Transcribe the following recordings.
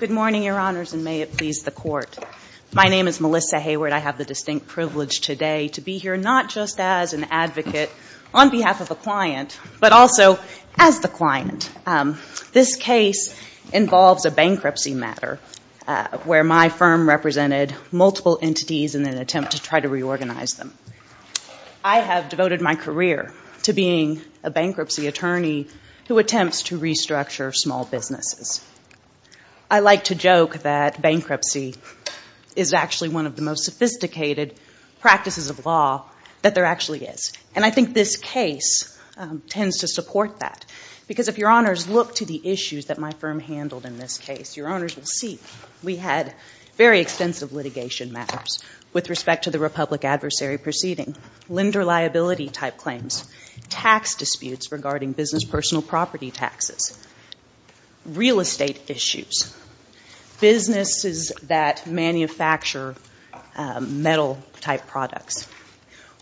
Good morning, Your Honors, and may it please the Court. My name is Melissa Hayward. I have the distinct privilege today to be here not just as an advocate on behalf of a client, but also as the client. This case involves a bankruptcy matter where my firm represented multiple entities in an attempt to try to reorganize them. I have devoted my career to being a bankruptcy attorney who attempts to restructure small businesses. I like to joke that bankruptcy is actually one of the most sophisticated practices of law that there actually is. And I think this case tends to support that. Because if Your Honors look to the issues that my firm handled in this case, Your Honors will see we had very extensive litigation matters with respect to the Republic Adversary Proceeding. Lender liability type crimes. Tax disputes regarding business personal property taxes. Real estate issues. Businesses that manufacture metal type products.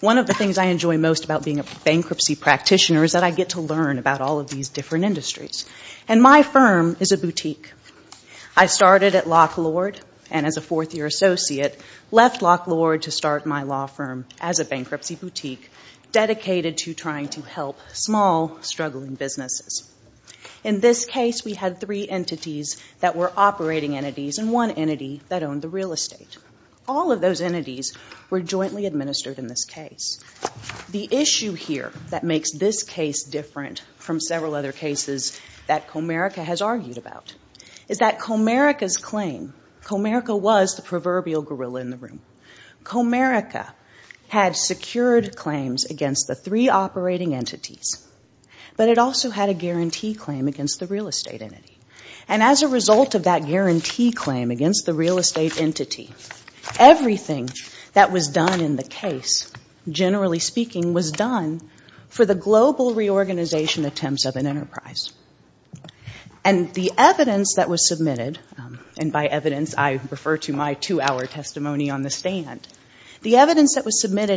One of the things I enjoy most about being a bankruptcy practitioner is that I get to learn about all of these different industries. And my firm is a boutique. I started at Lock Lord and as a fourth year associate left Lock Lord to start my law firm as a bankruptcy boutique dedicated to trying to help small struggling businesses. In this case we had three entities that were operating entities and one entity that owned the real estate. All of those entities were jointly administered in this case. The issue here that makes this case different from several other cases that Comerica has Comerica had secured claims against the three operating entities. But it also had a guarantee claim against the real estate entity. And as a result of that guarantee claim against the real estate entity, everything that was done in the case, generally speaking, was done for the global reorganization attempts of an enterprise. And the evidence that was submitted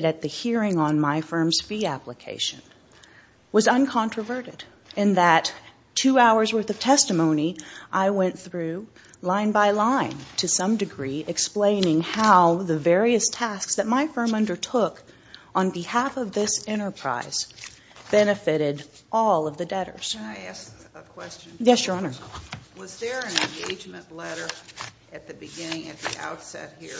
at the hearing on my firm's fee application was uncontroverted in that two hours worth of testimony I went through line by line to some degree explaining how the various tasks that my firm undertook on behalf of this enterprise benefited all of the debtors. Can I ask a question? Yes, Your Honor. Was there an engagement letter at the beginning at the outset here?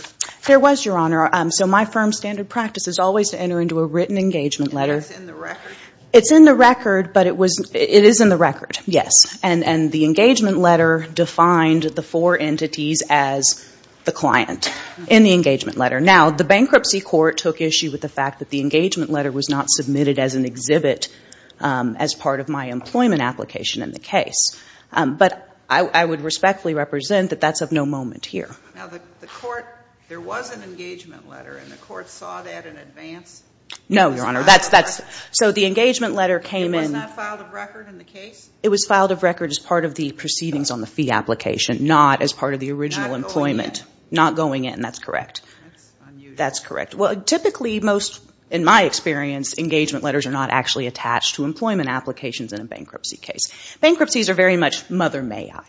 There was, Your Honor. So my firm's standard practice is always to enter into a written engagement letter. And that's in the record? It's in the record, but it is in the record, yes. And the engagement letter defined the four entities as the client in the engagement letter. Now, the bankruptcy court took issue with the fact that the engagement letter was not submitted as an exhibit as part of my employment application in the case. But I would respectfully represent that that's of no moment here. Now, the court, there was an engagement letter, and the court saw that in advance? No, Your Honor. So the engagement letter came in. It was not filed of record in the case? It was filed of record as part of the proceedings on the fee application, not as part of the original employment. Not going in. Not going in, that's correct. That's unusual. That's correct. Well, typically most, in my experience, engagement letters are not actually attached to employment applications in a bankruptcy case. Bankruptcies are very much mother may I.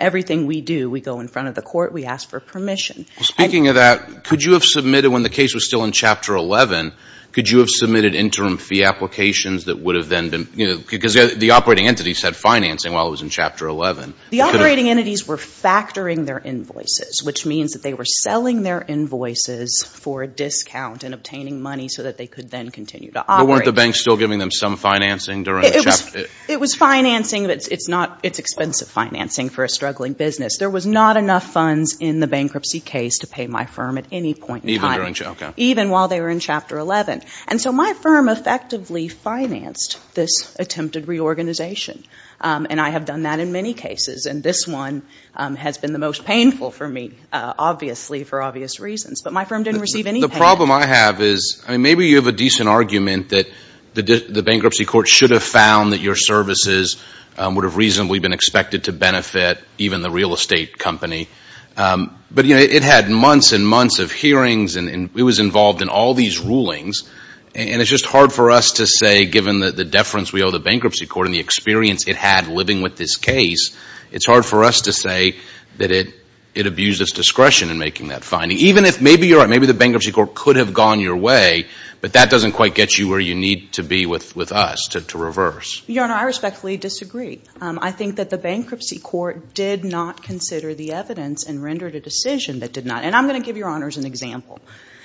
Everything we do, we go in front of the court, we ask for permission. Speaking of that, could you have submitted when the case was still in Chapter 11, could you have submitted interim fee applications that would have then been, you know, because the operating entities had financing while it was in Chapter 11. The operating entities were factoring their invoices, which means that they were selling their invoices for a discount and obtaining money so that they could then continue to operate. But weren't the banks still giving them some financing during Chapter 11? It was financing, but it's not, it's expensive financing for a struggling business. There was not enough funds in the bankruptcy case to pay my firm at any point in time. Even during, okay. Even while they were in Chapter 11. And so my firm effectively financed this attempted reorganization. And I have done that in many cases, and this one has been the most painful for me, obviously, for obvious reasons. But my firm didn't receive any payment. The problem I have is, I mean, maybe you have a decent argument that the bankruptcy court should have found that your services would have reasonably been expected to benefit even the real estate company. But, you know, it had months and months of hearings, and it was involved in all these rulings, and it's just hard for us to say, given the deference we owe the bankruptcy court and the experience it had living with this case, it's hard for us to say that it abused its discretion in making that finding. Even if, maybe you're right, maybe the bankruptcy court could have gone your way, but that doesn't quite get you where you need to be with us, to reverse. Your Honor, I respectfully disagree. I think that the bankruptcy court did not consider the evidence and rendered a decision that did not. And I'm going to give Your Honors an example.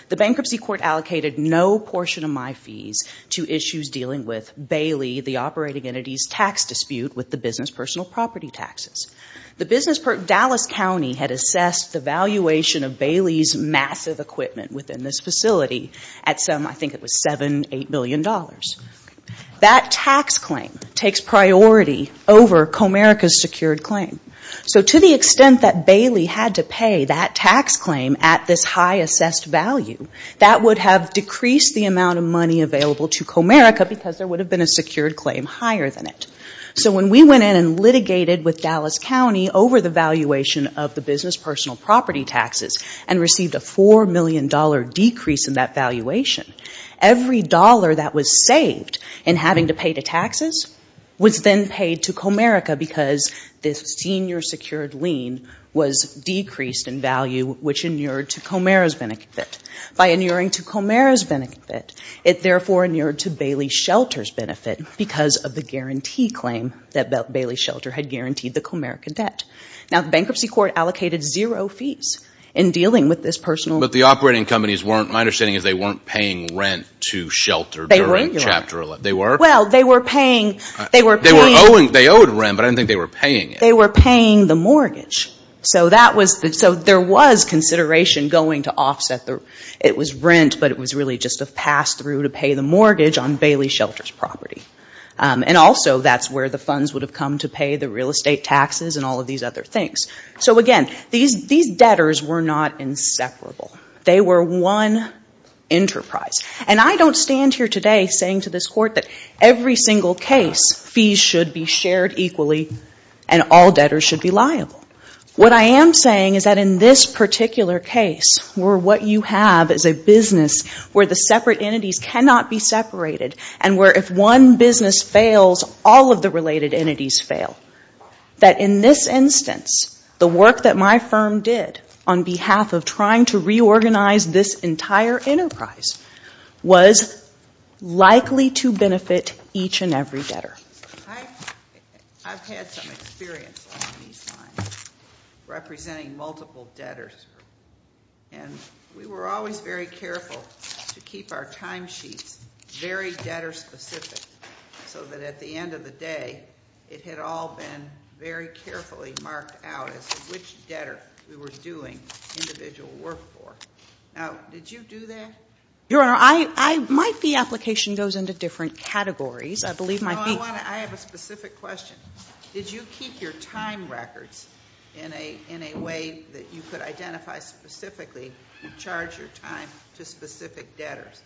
The bankruptcy court allocated no portion of my fees to issues dealing with Bailey, the operating entity's tax dispute with the business personal property taxes. The business, Dallas County had assessed the company's massive equipment within this facility at some, I think it was $7, $8 billion. That tax claim takes priority over Comerica's secured claim. So to the extent that Bailey had to pay that tax claim at this high assessed value, that would have decreased the amount of money available to Comerica because there would have been a secured claim higher than it. So when we went in and litigated with Dallas and received a $4 million decrease in that valuation, every dollar that was saved in having to pay the taxes was then paid to Comerica because this senior secured lien was decreased in value, which inured to Comerica's benefit. By inuring to Comerica's benefit, it therefore inured to Bailey Shelter's benefit because of the guarantee claim that Bailey Shelter had guaranteed the Comerica debt. Now, the bankruptcy court allocated zero fees in dealing with this personal... But the operating companies weren't, my understanding is they weren't paying rent to Shelter during Chapter 11. They were. They were? Well, they were paying, they were paying... They were owing, they owed rent, but I didn't think they were paying it. They were paying the mortgage. So that was, so there was consideration going to offset the, it was rent, but it was really just a pass through to pay the mortgage on Bailey the real estate taxes and all of these other things. So again, these debtors were not inseparable. They were one enterprise. And I don't stand here today saying to this court that every single case, fees should be shared equally and all debtors should be liable. What I am saying is that in this particular case, where what you have is a business where the separate entities fail, that in this instance, the work that my firm did on behalf of trying to reorganize this entire enterprise was likely to benefit each and every debtor. I've had some experience on these lines representing multiple debtors, and we were always very clear that it had all been very carefully marked out as to which debtor we were doing individual work for. Now, did you do that? Your Honor, I, I, might be application goes into different categories. I believe my fee... No, I want to, I have a specific question. Did you keep your time records in a, in a way that you could identify specifically and charge your time to specific debtors?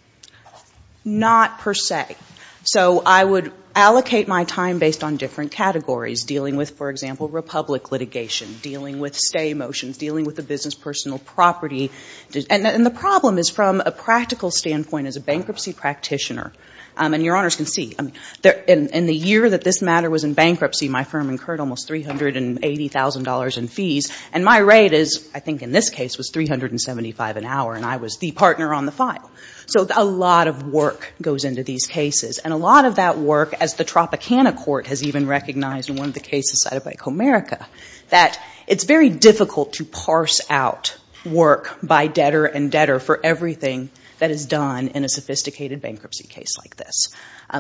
Not per se. So I would allocate my time based on different categories, dealing with, for example, Republic litigation, dealing with stay motions, dealing with the business personal property. And, and the problem is from a practical standpoint as a bankruptcy practitioner, and Your Honors can see, in the year that this matter was in bankruptcy, my firm incurred almost $380,000 in fees, and my rate is, I think in this case, was $375 an hour, and I was the partner on the file. So a lot of work goes into these cases, and a lot of that work, as the Tropicana Court has even recognized in one of the cases cited by Comerica, that it's very difficult to parse out work by debtor and debtor for everything that is done in a sophisticated bankruptcy case like this.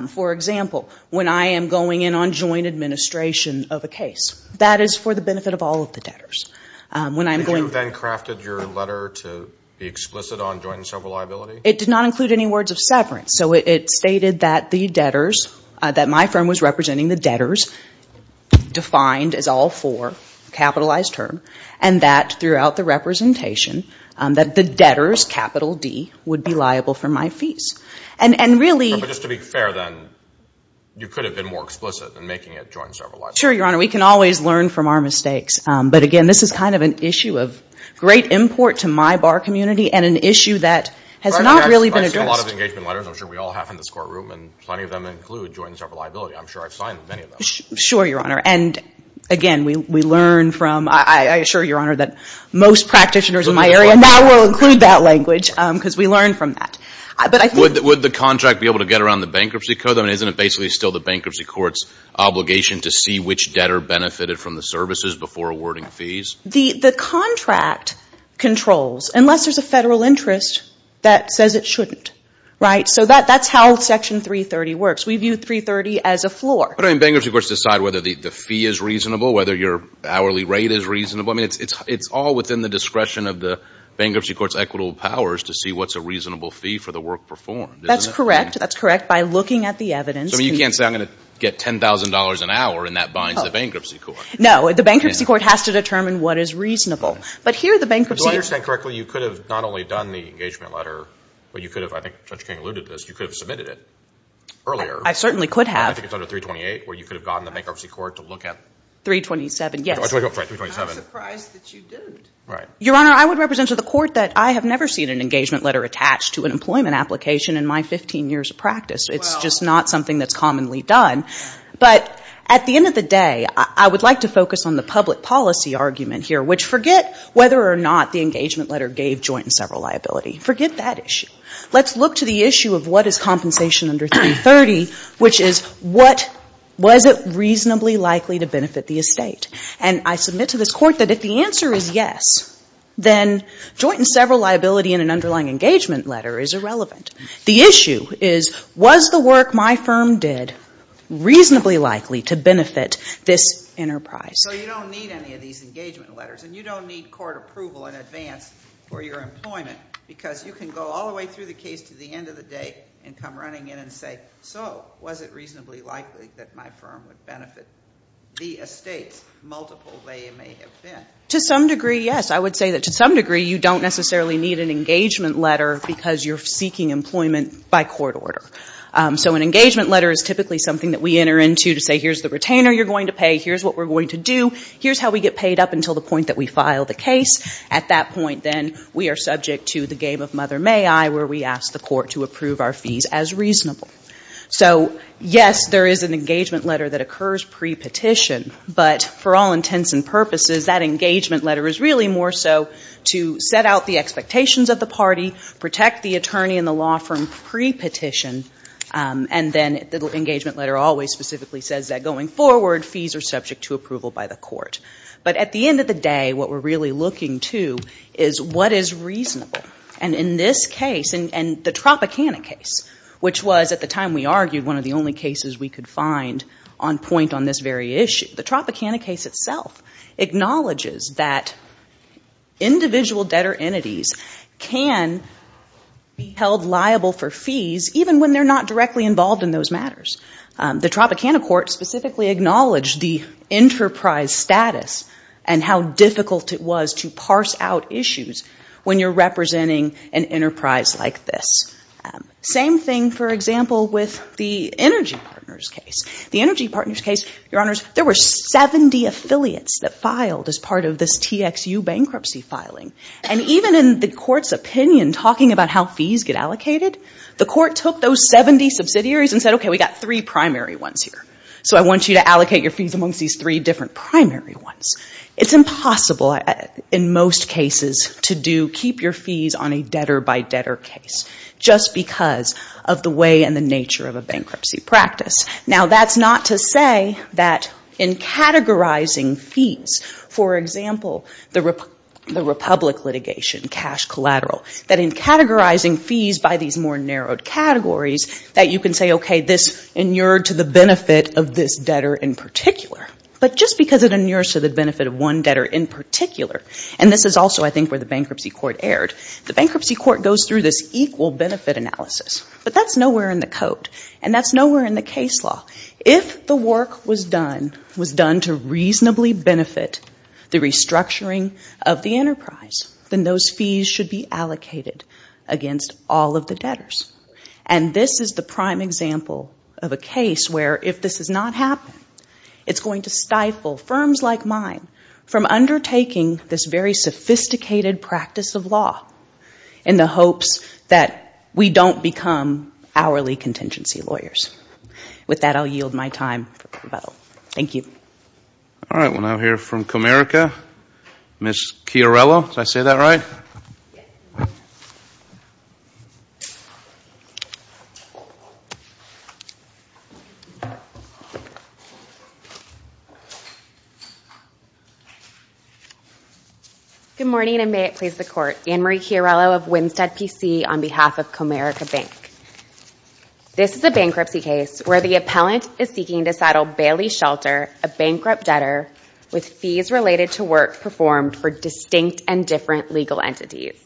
For example, when I am going in on joint administration of a case, that is for the benefit of all of the debtors. When I'm going... It did not include any words of severance. So it stated that the debtors, that my firm was representing the debtors, defined as all four, capitalized term, and that throughout the representation, that the debtors, capital D, would be liable for my fees. And, and really... But just to be fair then, you could have been more explicit in making it joint server liability. Sure, Your Honor. We can always learn from our mistakes. But again, this is kind of an import to my bar community, and an issue that has not really been addressed. I've seen a lot of engagement letters, I'm sure we all have in this courtroom, and plenty of them include joint server liability. I'm sure I've signed many of those. Sure, Your Honor. And again, we learn from... I assure Your Honor that most practitioners in my area now will include that language, because we learn from that. But I think... Would the contract be able to get around the bankruptcy code? I mean, isn't it basically still the bankruptcy court's obligation to see which debtor benefited from the services before awarding fees? The contract controls, unless there's a federal interest that says it shouldn't, right? So that's how Section 330 works. We view 330 as a floor. But I mean, bankruptcy courts decide whether the fee is reasonable, whether your hourly rate is reasonable. I mean, it's all within the discretion of the bankruptcy court's equitable powers to see what's a reasonable fee for the work performed, isn't it? That's correct. That's correct. By looking at the evidence... So you can't say, I'm going to get $10,000 an hour, and that binds the bankruptcy court? No. The bankruptcy court has to determine what is reasonable. But here, the bankruptcy... If I understand correctly, you could have not only done the engagement letter, but you could have, I think Judge King alluded to this, you could have submitted it earlier. I certainly could have. I think it's under 328, where you could have gotten the bankruptcy court to look at... 327, yes. Oh, I'm sorry, 327. I'm surprised that you didn't. Right. Your Honor, I would represent to the court that I have never seen an engagement letter attached to an employment application in my 15 years of practice. It's just not something that's commonly done. But at the end of the day, I would like to focus on the public policy argument here, which forget whether or not the engagement letter gave joint and several liability. Forget that issue. Let's look to the issue of what is compensation under 330, which is, was it reasonably likely to benefit the estate? And I submit to this Court that if the answer is yes, then joint and several liability in an underlying engagement letter is irrelevant. The issue is, was the work my firm did reasonably likely to benefit this enterprise? So you don't need any of these engagement letters, and you don't need court approval in advance for your employment, because you can go all the way through the case to the end of the day and come running in and say, so, was it reasonably likely that my firm would benefit the estates, multiple they may have been? To some degree, yes. I would say that to some degree, you don't necessarily need an engagement letter because you're seeking employment by court order. So an engagement letter is typically something that we enter into to say, here's the retainer you're going to pay, here's what we're going to do, here's how we get paid up until the point that we file the case. At that point, then, we are subject to the game of mother may I, where we ask the Court to approve our fees as reasonable. So yes, there is an engagement letter that occurs pre-petition, but for all intents and purposes, we protect the attorney and the law firm pre-petition, and then the engagement letter always specifically says that going forward, fees are subject to approval by the court. But at the end of the day, what we're really looking to is what is reasonable. And in this case, and the Tropicana case, which was, at the time we argued, one of the only cases we could find on point on this very issue, the Tropicana case itself acknowledges that fees can be held liable for fees even when they're not directly involved in those matters. The Tropicana Court specifically acknowledged the enterprise status and how difficult it was to parse out issues when you're representing an enterprise like this. Same thing, for example, with the Energy Partners case. The Energy Partners case, Your Honors, there were 70 affiliates that filed as part of this TXU bankruptcy filing. And even in the court's opinion, talking about how fees get allocated, the court took those 70 subsidiaries and said, okay, we've got three primary ones here. So I want you to allocate your fees amongst these three different primary ones. It's impossible, in most cases, to keep your fees on a debtor-by-debtor case just because of the way and the nature of a bankruptcy practice. Now, that's not to say that in categorizing fees, for example, the Republic litigation, cash collateral, that in categorizing fees by these more narrowed categories that you can say, okay, this inured to the benefit of this debtor in particular. But just because it inures to the benefit of one debtor in particular, and this is also, I think, where the bankruptcy court erred, the bankruptcy court goes through this equal benefit analysis. But that's nowhere in the code. And that's reasonably benefit the restructuring of the enterprise, then those fees should be allocated against all of the debtors. And this is the prime example of a case where, if this has not happened, it's going to stifle firms like mine from undertaking this very sophisticated practice of law in the hopes that we don't become hourly contingency lawyers. With that, I'll yield my time for rebuttal. Thank you. All right. We'll now hear from Comerica. Ms. Chiarello, did I say that right? Good morning, and may it please the Court. Annemarie Chiarello of Winstead, PC, on behalf of Comerica Bank. This is a bankruptcy case where the appellant is seeking to settle Bailey Shelter, a bankrupt debtor, with fees related to work performed for distinct and different legal entities.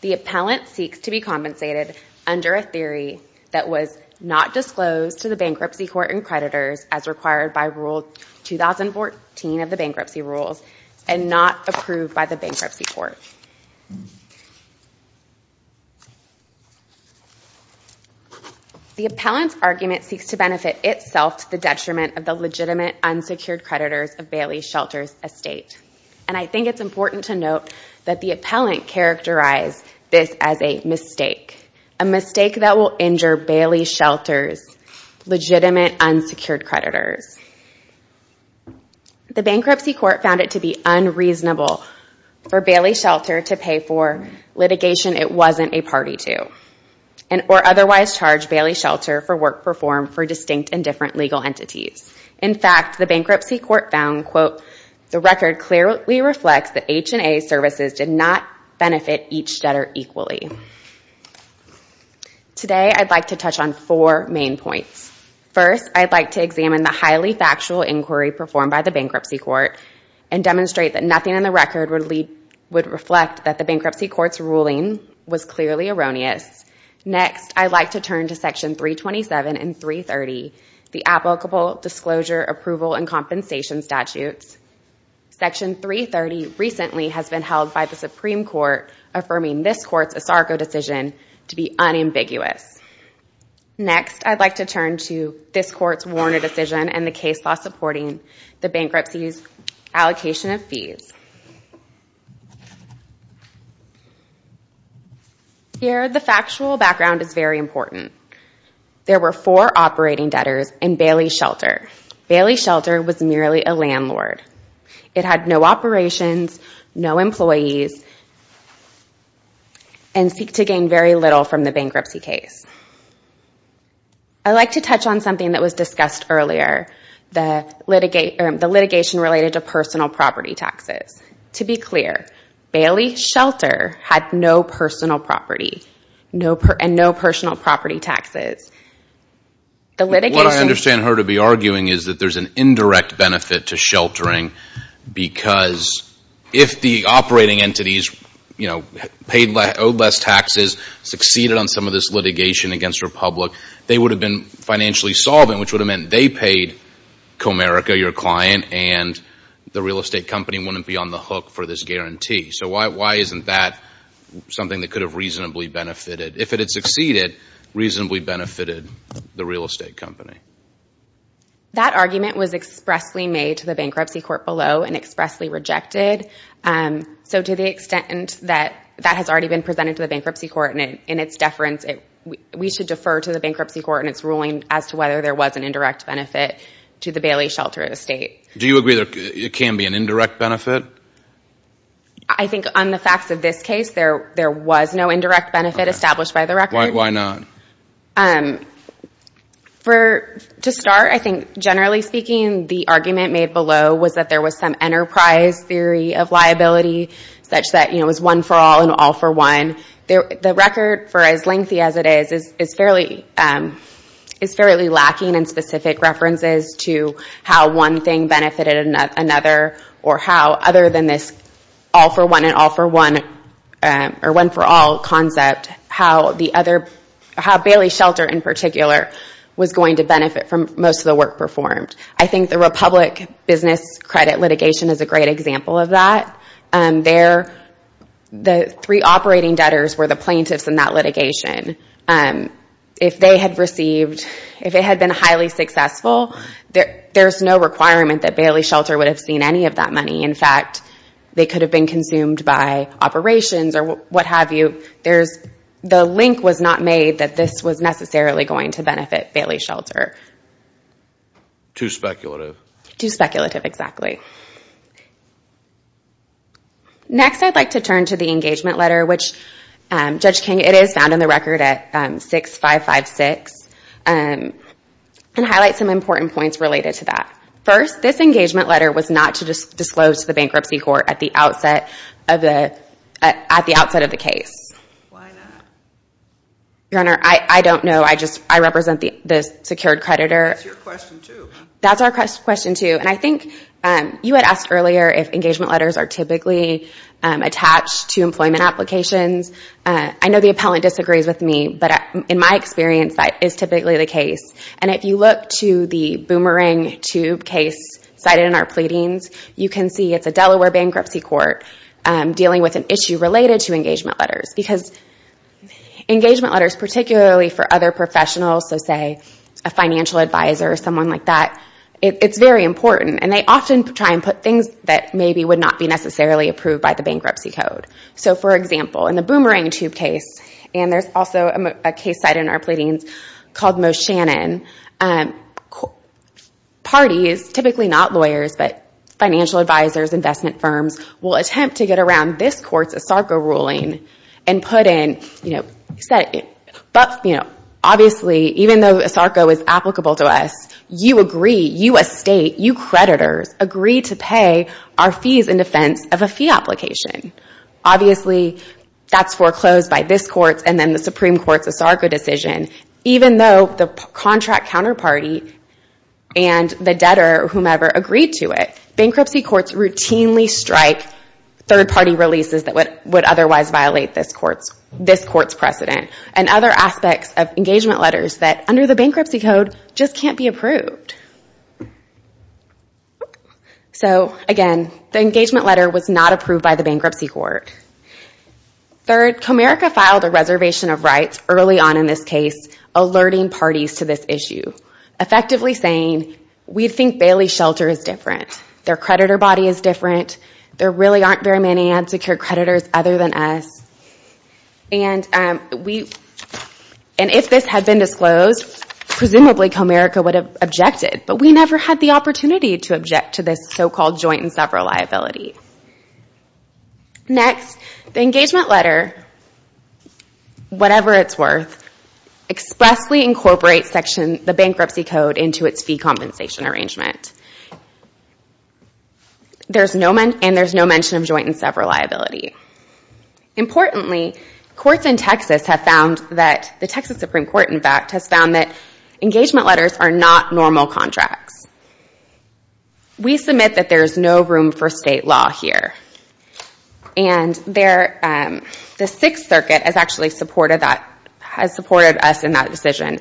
The appellant seeks to be compensated under a theory that was not disclosed to the bankruptcy court and creditors as required by Rule 2014 of the Bankruptcy Rules and not approved by the bankruptcy court. The appellant's argument seeks to benefit itself to the detriment of the legitimate unsecured creditors of Bailey Shelter's estate. And I think it's important to note that the appellant characterized this as a mistake, a mistake that will injure Bailey Shelter's legitimate unsecured creditors. The bankruptcy court found it to be unreasonable for Bailey Shelter to pay for litigation it wasn't a party to, or otherwise charge Bailey Shelter for work performed for distinct and different legal entities. In fact, the bankruptcy court found, quote, the record clearly reflects that H&A services did not benefit each debtor equally. Today I'd like to touch on four main points. First, I'd like to examine the highly factual inquiry performed by the bankruptcy court and demonstrate that nothing in the record would reflect that the bankruptcy court's ruling was clearly erroneous. Next, I'd like to turn to Section 327 and 330, the applicable disclosure, approval, and compensation statutes. Section 330 recently has been held by the Supreme Court affirming this court's ASARCO decision to be unambiguous. Next, I'd like to turn to this court's Warner decision and the case law supporting the bankruptcy's allocation of fees. Here the factual background is very important. There were four operating debtors in Bailey Shelter. Bailey Shelter was merely a landlord. It had no operations, no employees, and seek to gain very little from the bankruptcy case. I'd like to touch on something that was discussed earlier, the litigation related to personal property taxes. To be clear, Bailey Shelter had no personal property and no personal property taxes. What I understand her to be arguing is that there's an indirect benefit to sheltering because if the operating entities, you know, paid less, owed less taxes, succeeded on some of this litigation against Republic, they would have been financially solvent, which would have meant they paid Comerica, your client, and the real estate company wouldn't be on the hook for this guarantee. So why isn't that something that could have reasonably benefited? If it had succeeded, reasonably benefited the real estate company. That argument was expressly made to the bankruptcy court below and expressly rejected. So to the extent that that has already been presented to the bankruptcy court in its deference, we should defer to the bankruptcy court in its ruling as to whether there was an indirect benefit to the Bailey Shelter estate. Do you agree there can be an indirect benefit? I think on the facts of this case, there was no indirect benefit established by the record. Why not? To start, I think generally speaking, the argument made below was that there was some such that, you know, it was one for all and all for one. The record, for as lengthy as it is, is fairly lacking in specific references to how one thing benefited another or how other than this all for one and all for one or one for all concept, how Bailey Shelter in particular was going to benefit from most of the work performed. I think the Republic business credit litigation is a great example of that. The three operating debtors were the plaintiffs in that litigation. If they had received, if it had been highly successful, there is no requirement that Bailey Shelter would have seen any of that money. In fact, they could have been consumed by operations or what have you. The link was not made that this was necessarily going to benefit Bailey Shelter. Too speculative. Too speculative, exactly. Next, I'd like to turn to the engagement letter, which Judge King, it is found in the record at 6556, and highlight some important points related to that. First, this engagement letter was not to disclose to the bankruptcy court at the outset of the case. Why not? Your Honor, I don't know. I represent the secured creditor. That's your question, too. That's our question, too. I think you had asked earlier if engagement letters are typically attached to employment applications. I know the appellant disagrees with me, but in my experience, that is typically the case. If you look to the boomerang tube case cited in our pleadings, you can see it's a Delaware bankruptcy court dealing with an issue related to engagement letters. Engagement letters, particularly for other professionals, so say a financial advisor or someone like that, it's very important. They often try to put things that maybe would not be necessarily approved by the bankruptcy code. For example, in the boomerang tube case, and there's also a case cited in our pleadings called Moe Shannon, parties, typically not lawyers, but financial advisors, investment advisors, will look at your ruling and put in, obviously, even though ASARCO is applicable to us, you agree, you as state, you creditors, agree to pay our fees in defense of a fee application. Obviously, that's foreclosed by this court and then the Supreme Court's ASARCO decision, even though the contract counterparty and the debtor, whomever, agreed to it, bankruptcy courts routinely strike third-party releases that would otherwise violate this court's precedent and other aspects of engagement letters that, under the bankruptcy code, just can't be approved. Again, the engagement letter was not approved by the bankruptcy court. Third, Comerica filed a reservation of rights early on in this case, alerting parties to this issue, effectively saying, we think Bailey Shelter is different. Their creditor body is different. There really aren't very many unsecured creditors other than us. If this had been disclosed, presumably Comerica would have objected, but we never had the opportunity to object to this so-called joint and separate liability. Next, the engagement letter, whatever it's worth, expressly incorporates the bankruptcy code into its fee compensation arrangement. There's no mention of joint and separate liability. Importantly, courts in Texas have found that, the Texas Supreme Court, in fact, has found that engagement letters are not normal contracts. We submit that there is no room for state law here. The Sixth Circuit has actually supported us in that decision.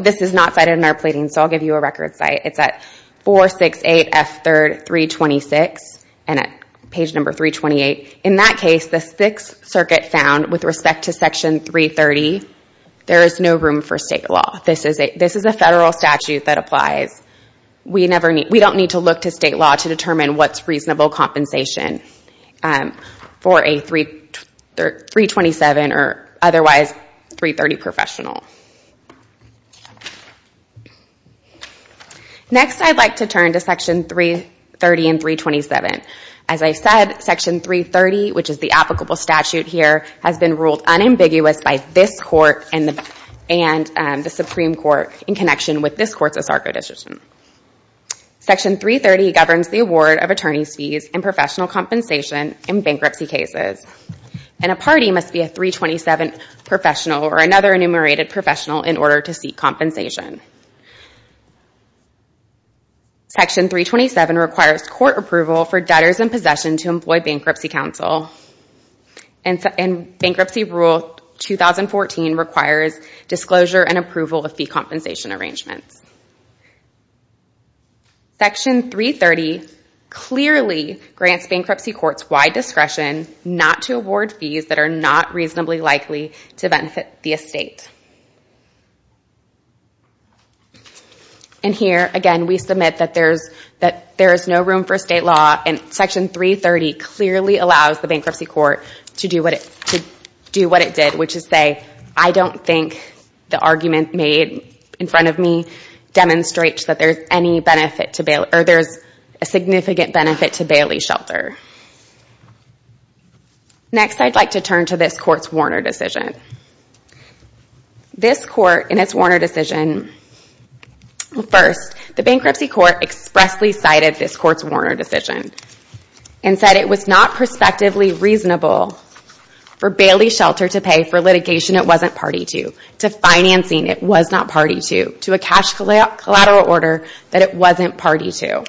This is not cited in our plating, so I'll give you a record site. It's at 468F3226, page number 328. In that case, the Sixth Circuit found, with respect to Section 330, there is no room for state law. This is a federal statute that applies. We don't need to look to state law to determine what's reasonable compensation for a 327 or otherwise 330 professional. Next I'd like to turn to Section 330 and 327. As I said, Section 330, which is the applicable statute here, has been ruled unambiguous by this Court and the Supreme Court in connection with this Court's ASARCO decision. Section 330 governs the award of attorney's fees and professional compensation in bankruptcy cases. A party must be a 327 professional or another enumerated professional in order to seek compensation. Section 327 requires court approval for debtors in possession to employ Bankruptcy Counsel. Bankruptcy Rule 2014 requires disclosure and statements. Section 330 clearly grants bankruptcy courts wide discretion not to award fees that are not reasonably likely to benefit the estate. Here, again, we submit that there is no room for state law and Section 330 clearly allows the bankruptcy court to do what it did, which is demonstrate that there is a significant benefit to Bailey Shelter. Next I'd like to turn to this Court's Warner decision. First, the bankruptcy court expressly cited this Court's Warner decision and said it was not prospectively reasonable for Bailey Shelter to apply a large collateral order that it wasn't party to.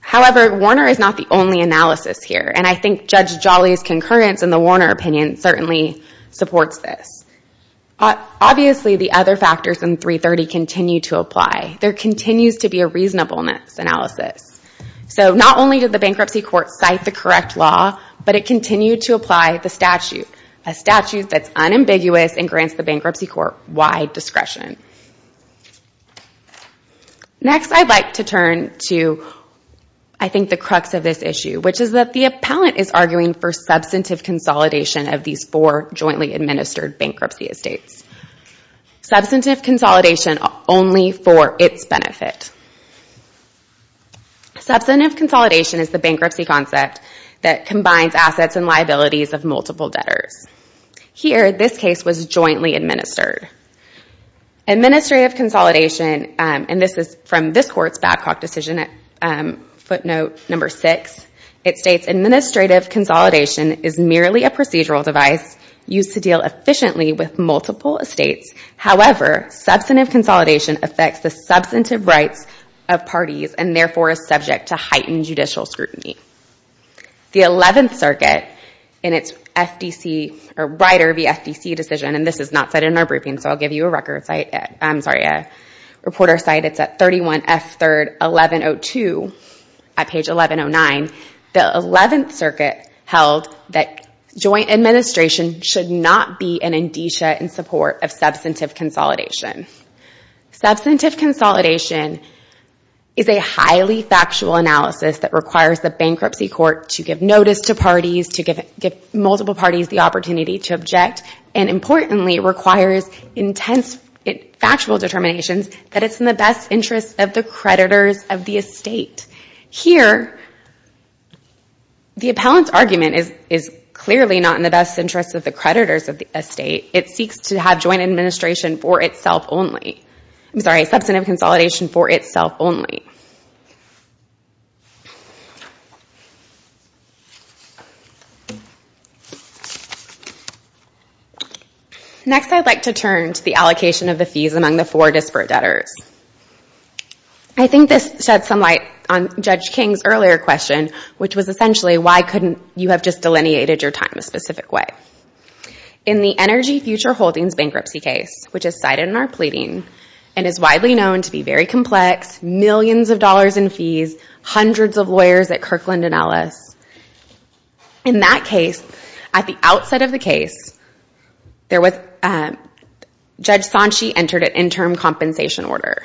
However, Warner is not the only analysis here, and I think Judge Jolly's concurrence in the Warner opinion certainly supports this. Obviously, the other factors in Section 330 continue to apply. There continues to be a reasonableness analysis. So not only did the bankruptcy court cite the correct law, but it continued to apply the statute, a statute that's unambiguous and grants the bankruptcy court wide discretion. Next I'd like to turn to, I think, the crux of this issue, which is that the appellant is arguing for substantive consolidation of these four jointly administered bankruptcy estates. Substantive consolidation only for its benefit. Substantive consolidation is the bankruptcy concept that combines assets and liabilities of multiple debtors. Here, this case was jointly administered. Administrative consolidation, and this is from this Court's Babcock decision, footnote number six, it states administrative consolidation is merely a procedural device used to deal efficiently with multiple estates. However, substantive consolidation affects the substantive rights of parties and therefore is subject to heightened This is not cited in our briefing, so I'll give you a reporter's cite. It's at 31F3rd 1102 at page 1109. The Eleventh Circuit held that joint administration should not be an indicia in support of substantive consolidation. Substantive consolidation is a highly factual analysis that requires the bankruptcy court to give notice to parties, to give multiple parties the opportunity to object, and importantly requires intense factual determinations that it's in the best interest of the creditors of the estate. Here, the appellant's argument is clearly not in the best interest of the creditors of the estate. It seeks to have joint administration for itself only. I'm sorry, substantive consolidation for itself only. Next, I'd like to turn to the allocation of the fees among the four disparate debtors. I think this sheds some light on Judge King's earlier question, which was essentially why couldn't you have just delineated your time a specific way. In the Energy Future Holdings bankruptcy case, which is cited in our pleading and is widely known to be very complex, millions of dollars in fees, hundreds of lawyers at Kirkland & Ellis. In that case, at the outset of the case, Judge Sanchi entered an interim compensation order.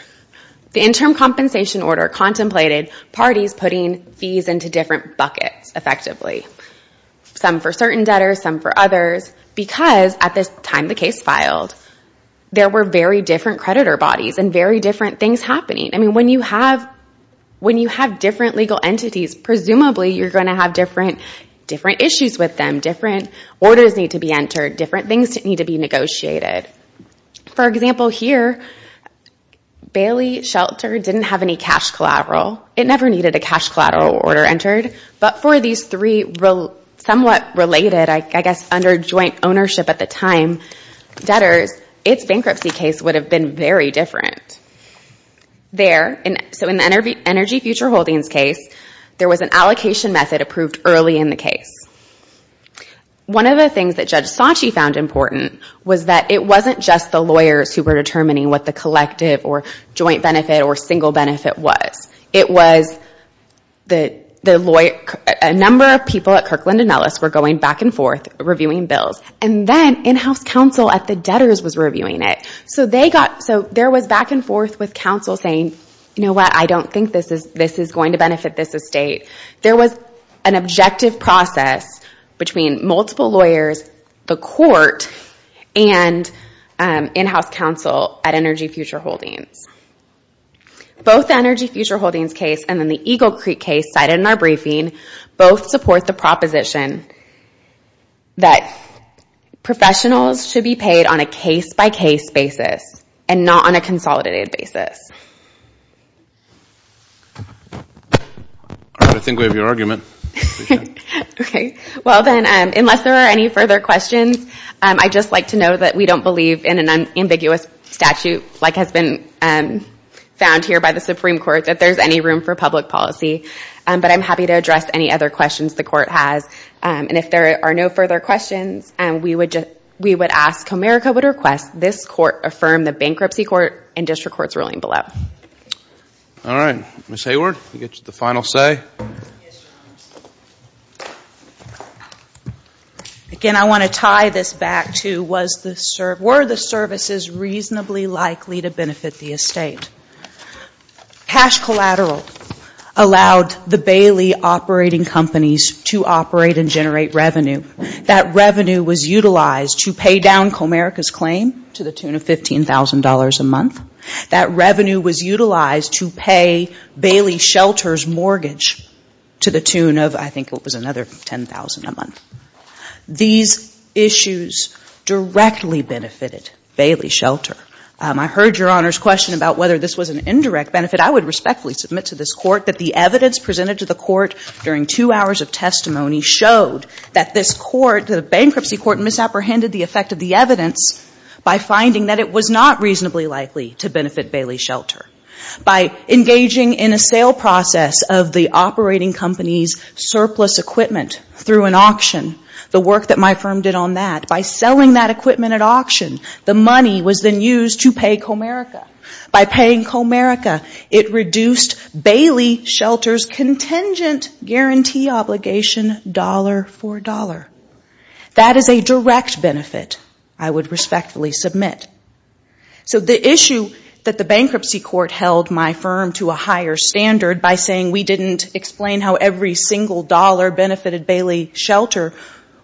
The interim compensation order contemplated parties putting fees into different buckets, effectively. Some for certain debtors, some for others, because at the time the case filed, there were very different When you have different legal entities, presumably you're going to have different issues with them, different orders need to be entered, different things need to be negotiated. For example, here, Bailey Shelter didn't have any cash collateral. It never needed a cash collateral order entered, but for these three somewhat related, I guess under joint ownership at the time, debtors, its bankruptcy case would have been very different. There, so in the Energy Future Holdings case, there was an allocation method approved early in the case. One of the things that Judge Sanchi found important was that it wasn't just the lawyers who were determining what the collective or joint benefit or single benefit was. It was a number of people at Kirkland & Ellis were going back and forth reviewing bills, and then in-house counsel at the debtors was reviewing it. So there was back and forth with counsel saying, you know what, I don't think this is going to benefit this estate. There was an objective process between multiple lawyers, the court, and in-house counsel at Energy Future Holdings. Both the Energy Future Holdings case and then the Eagle Creek case cited in our briefing, both support the proposition that professionals should be paid on a case-by-case basis and not on a consolidated basis. All right, I think we have your argument. Okay, well then, unless there are any further questions, I'd just like to know that we don't believe in an ambiguous statute like has been found here by the Supreme Court that there's any room for public policy, but I'm happy to address any other questions the court has, and if there are no further questions, we would ask Comerica would request this court affirm the Bankruptcy Court and District Courts ruling below. All right, Ms. Hayward, you get the final say. Again, I want to tie this back to were the services reasonably likely to benefit the estate. Cash Collateral allowed the Bailey operating companies to operate in a way that generate and generate revenue. That revenue was utilized to pay down Comerica's claim to the tune of $15,000 a month. That revenue was utilized to pay Bailey Shelter's mortgage to the tune of, I think it was another $10,000 a month. These issues directly benefited Bailey Shelter. I heard Your Honor's question about whether this was an indirect benefit. I would respectfully submit to this court that the evidence presented to the court during two hours of testimony showed that this court, the Bankruptcy Court, misapprehended the effect of the evidence by finding that it was not reasonably likely to benefit Bailey Shelter. By engaging in a sale process of the operating company's surplus equipment through an auction, the work that my firm did on that, by selling that equipment at auction, the money was then used to pay Comerica. By paying Comerica, it reduced Bailey Shelter's contingent guarantee obligation, dollar for dollar. That is a direct benefit, I would respectfully submit. So the issue that the Bankruptcy Court held my firm to a higher standard by saying we didn't explain how every single dollar benefited Bailey Shelter,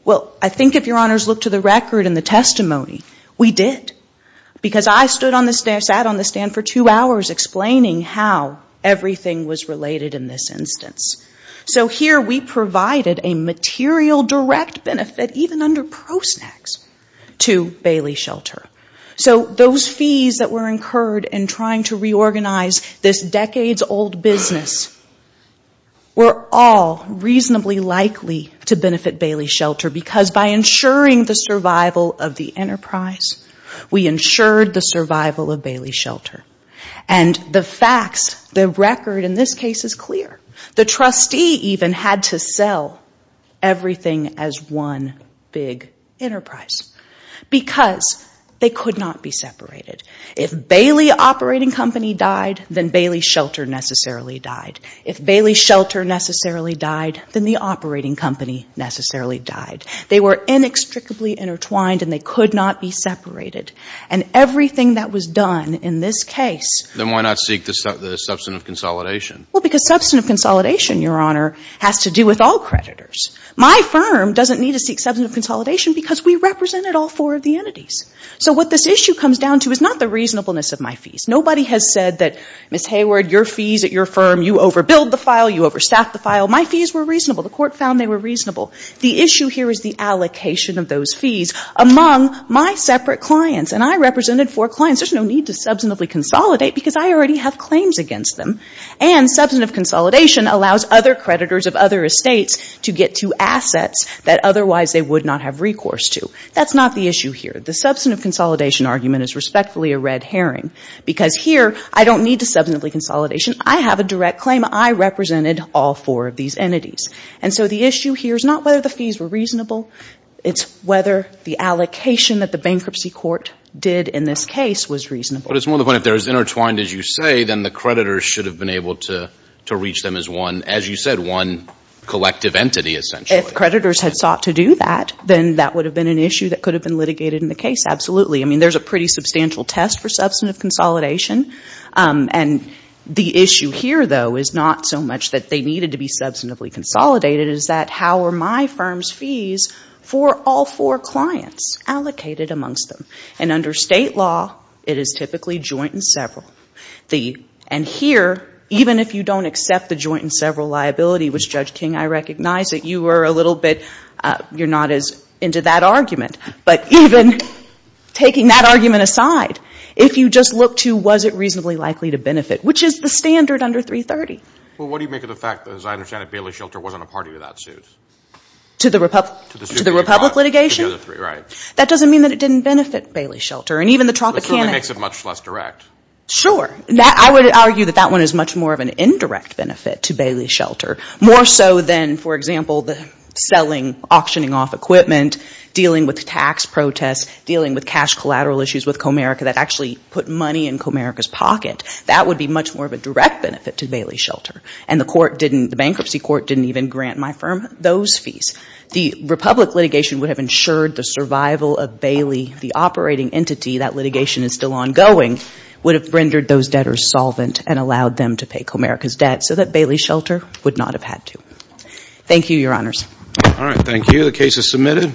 well, I think if Your Honor's looked to the record and the testimony, we did. Because I stood on the stand, sat on the stand for two hours explaining how everything was related in this instance. So here we provided a material direct benefit, even under pro snacks, to Bailey Shelter. So those fees that were incurred in trying to reorganize this decades-old business were all reasonably likely to benefit Bailey Shelter because by ensuring the survival of the enterprise, we ensured the survival of Bailey Shelter. And the facts, the record in this case is clear. The trustee even had to sell everything as one big enterprise. Because they could not be separated. If Bailey Operating Company died, then Bailey Shelter necessarily died. If Bailey Shelter necessarily died, then the operating company necessarily died. They were inextricably intertwined and they could not be separated. And everything that was done in this case... Then why not seek the substantive consolidation? Well, because substantive consolidation, Your Honor, has to do with all creditors. My firm doesn't need to seek substantive consolidation because we represented all four of the entities. So what this issue comes down to is not the reasonableness of my fees. Nobody has said that, Ms. Hayward, your fees at your firm, you overbilled the file, you overstaffed the file. My fees were reasonable. The court found they were reasonable. The issue here is the allocation of those fees among my separate clients. And I represented four clients. There's no need to substantively consolidate because I already have claims against them. And substantive consolidation allows other creditors of other estates to get to assets that otherwise they would not have recourse to. That's not the issue here. The substantive consolidation argument is respectfully a red herring. Because here, I don't need to substantively consolidation. I have a direct claim. I represented all four of these entities. And so the issue here is not whether the fees were reasonable. It's whether the allocation that the bankruptcy court did in this case was reasonable. But it's more the point, if they're as intertwined as you say, then the creditors should have been able to reach them as one, as you said, one collective entity, essentially. If creditors had sought to do that, then that would have been an issue that could have been litigated in the case. Absolutely. I mean, there's a pretty substantial test for substantive consolidation. And the issue here, though, is not so much that they needed to be substantively consolidated, is that how are my firm's fees for all four clients allocated amongst them? And under state law, it is typically joint and several. And here, even if you don't accept the joint and several liability, which Judge King, I recognize that you were a little bit – you're not as into that argument. But even taking that argument aside, if you just look to was it reasonably likely to benefit, which is the standard under 330. Well, what do you make of the fact that, as I understand it, Bailey Shelter wasn't a party to that suit? To the republic litigation? To the other three, right. That doesn't mean that it didn't benefit Bailey Shelter. And even the Tropicana – It certainly makes it much less direct. Sure. I would argue that that one is much more of an indirect benefit to Bailey Shelter, more so than, for example, the selling, auctioning off equipment, dealing with tax protests, dealing with cash collateral issues with Comerica that actually put money in Comerica's pocket. That would be much more of a direct benefit to Bailey Shelter. And the court didn't – the bankruptcy court didn't even grant my firm those fees. The republic litigation would have ensured the survival of Bailey, the operating entity – that litigation is still ongoing – would have rendered those debtors solvent and allowed them to pay Comerica's debt so that Bailey Shelter would not have had to. Thank you, Your Honors. All right. Thank you. The case is submitted.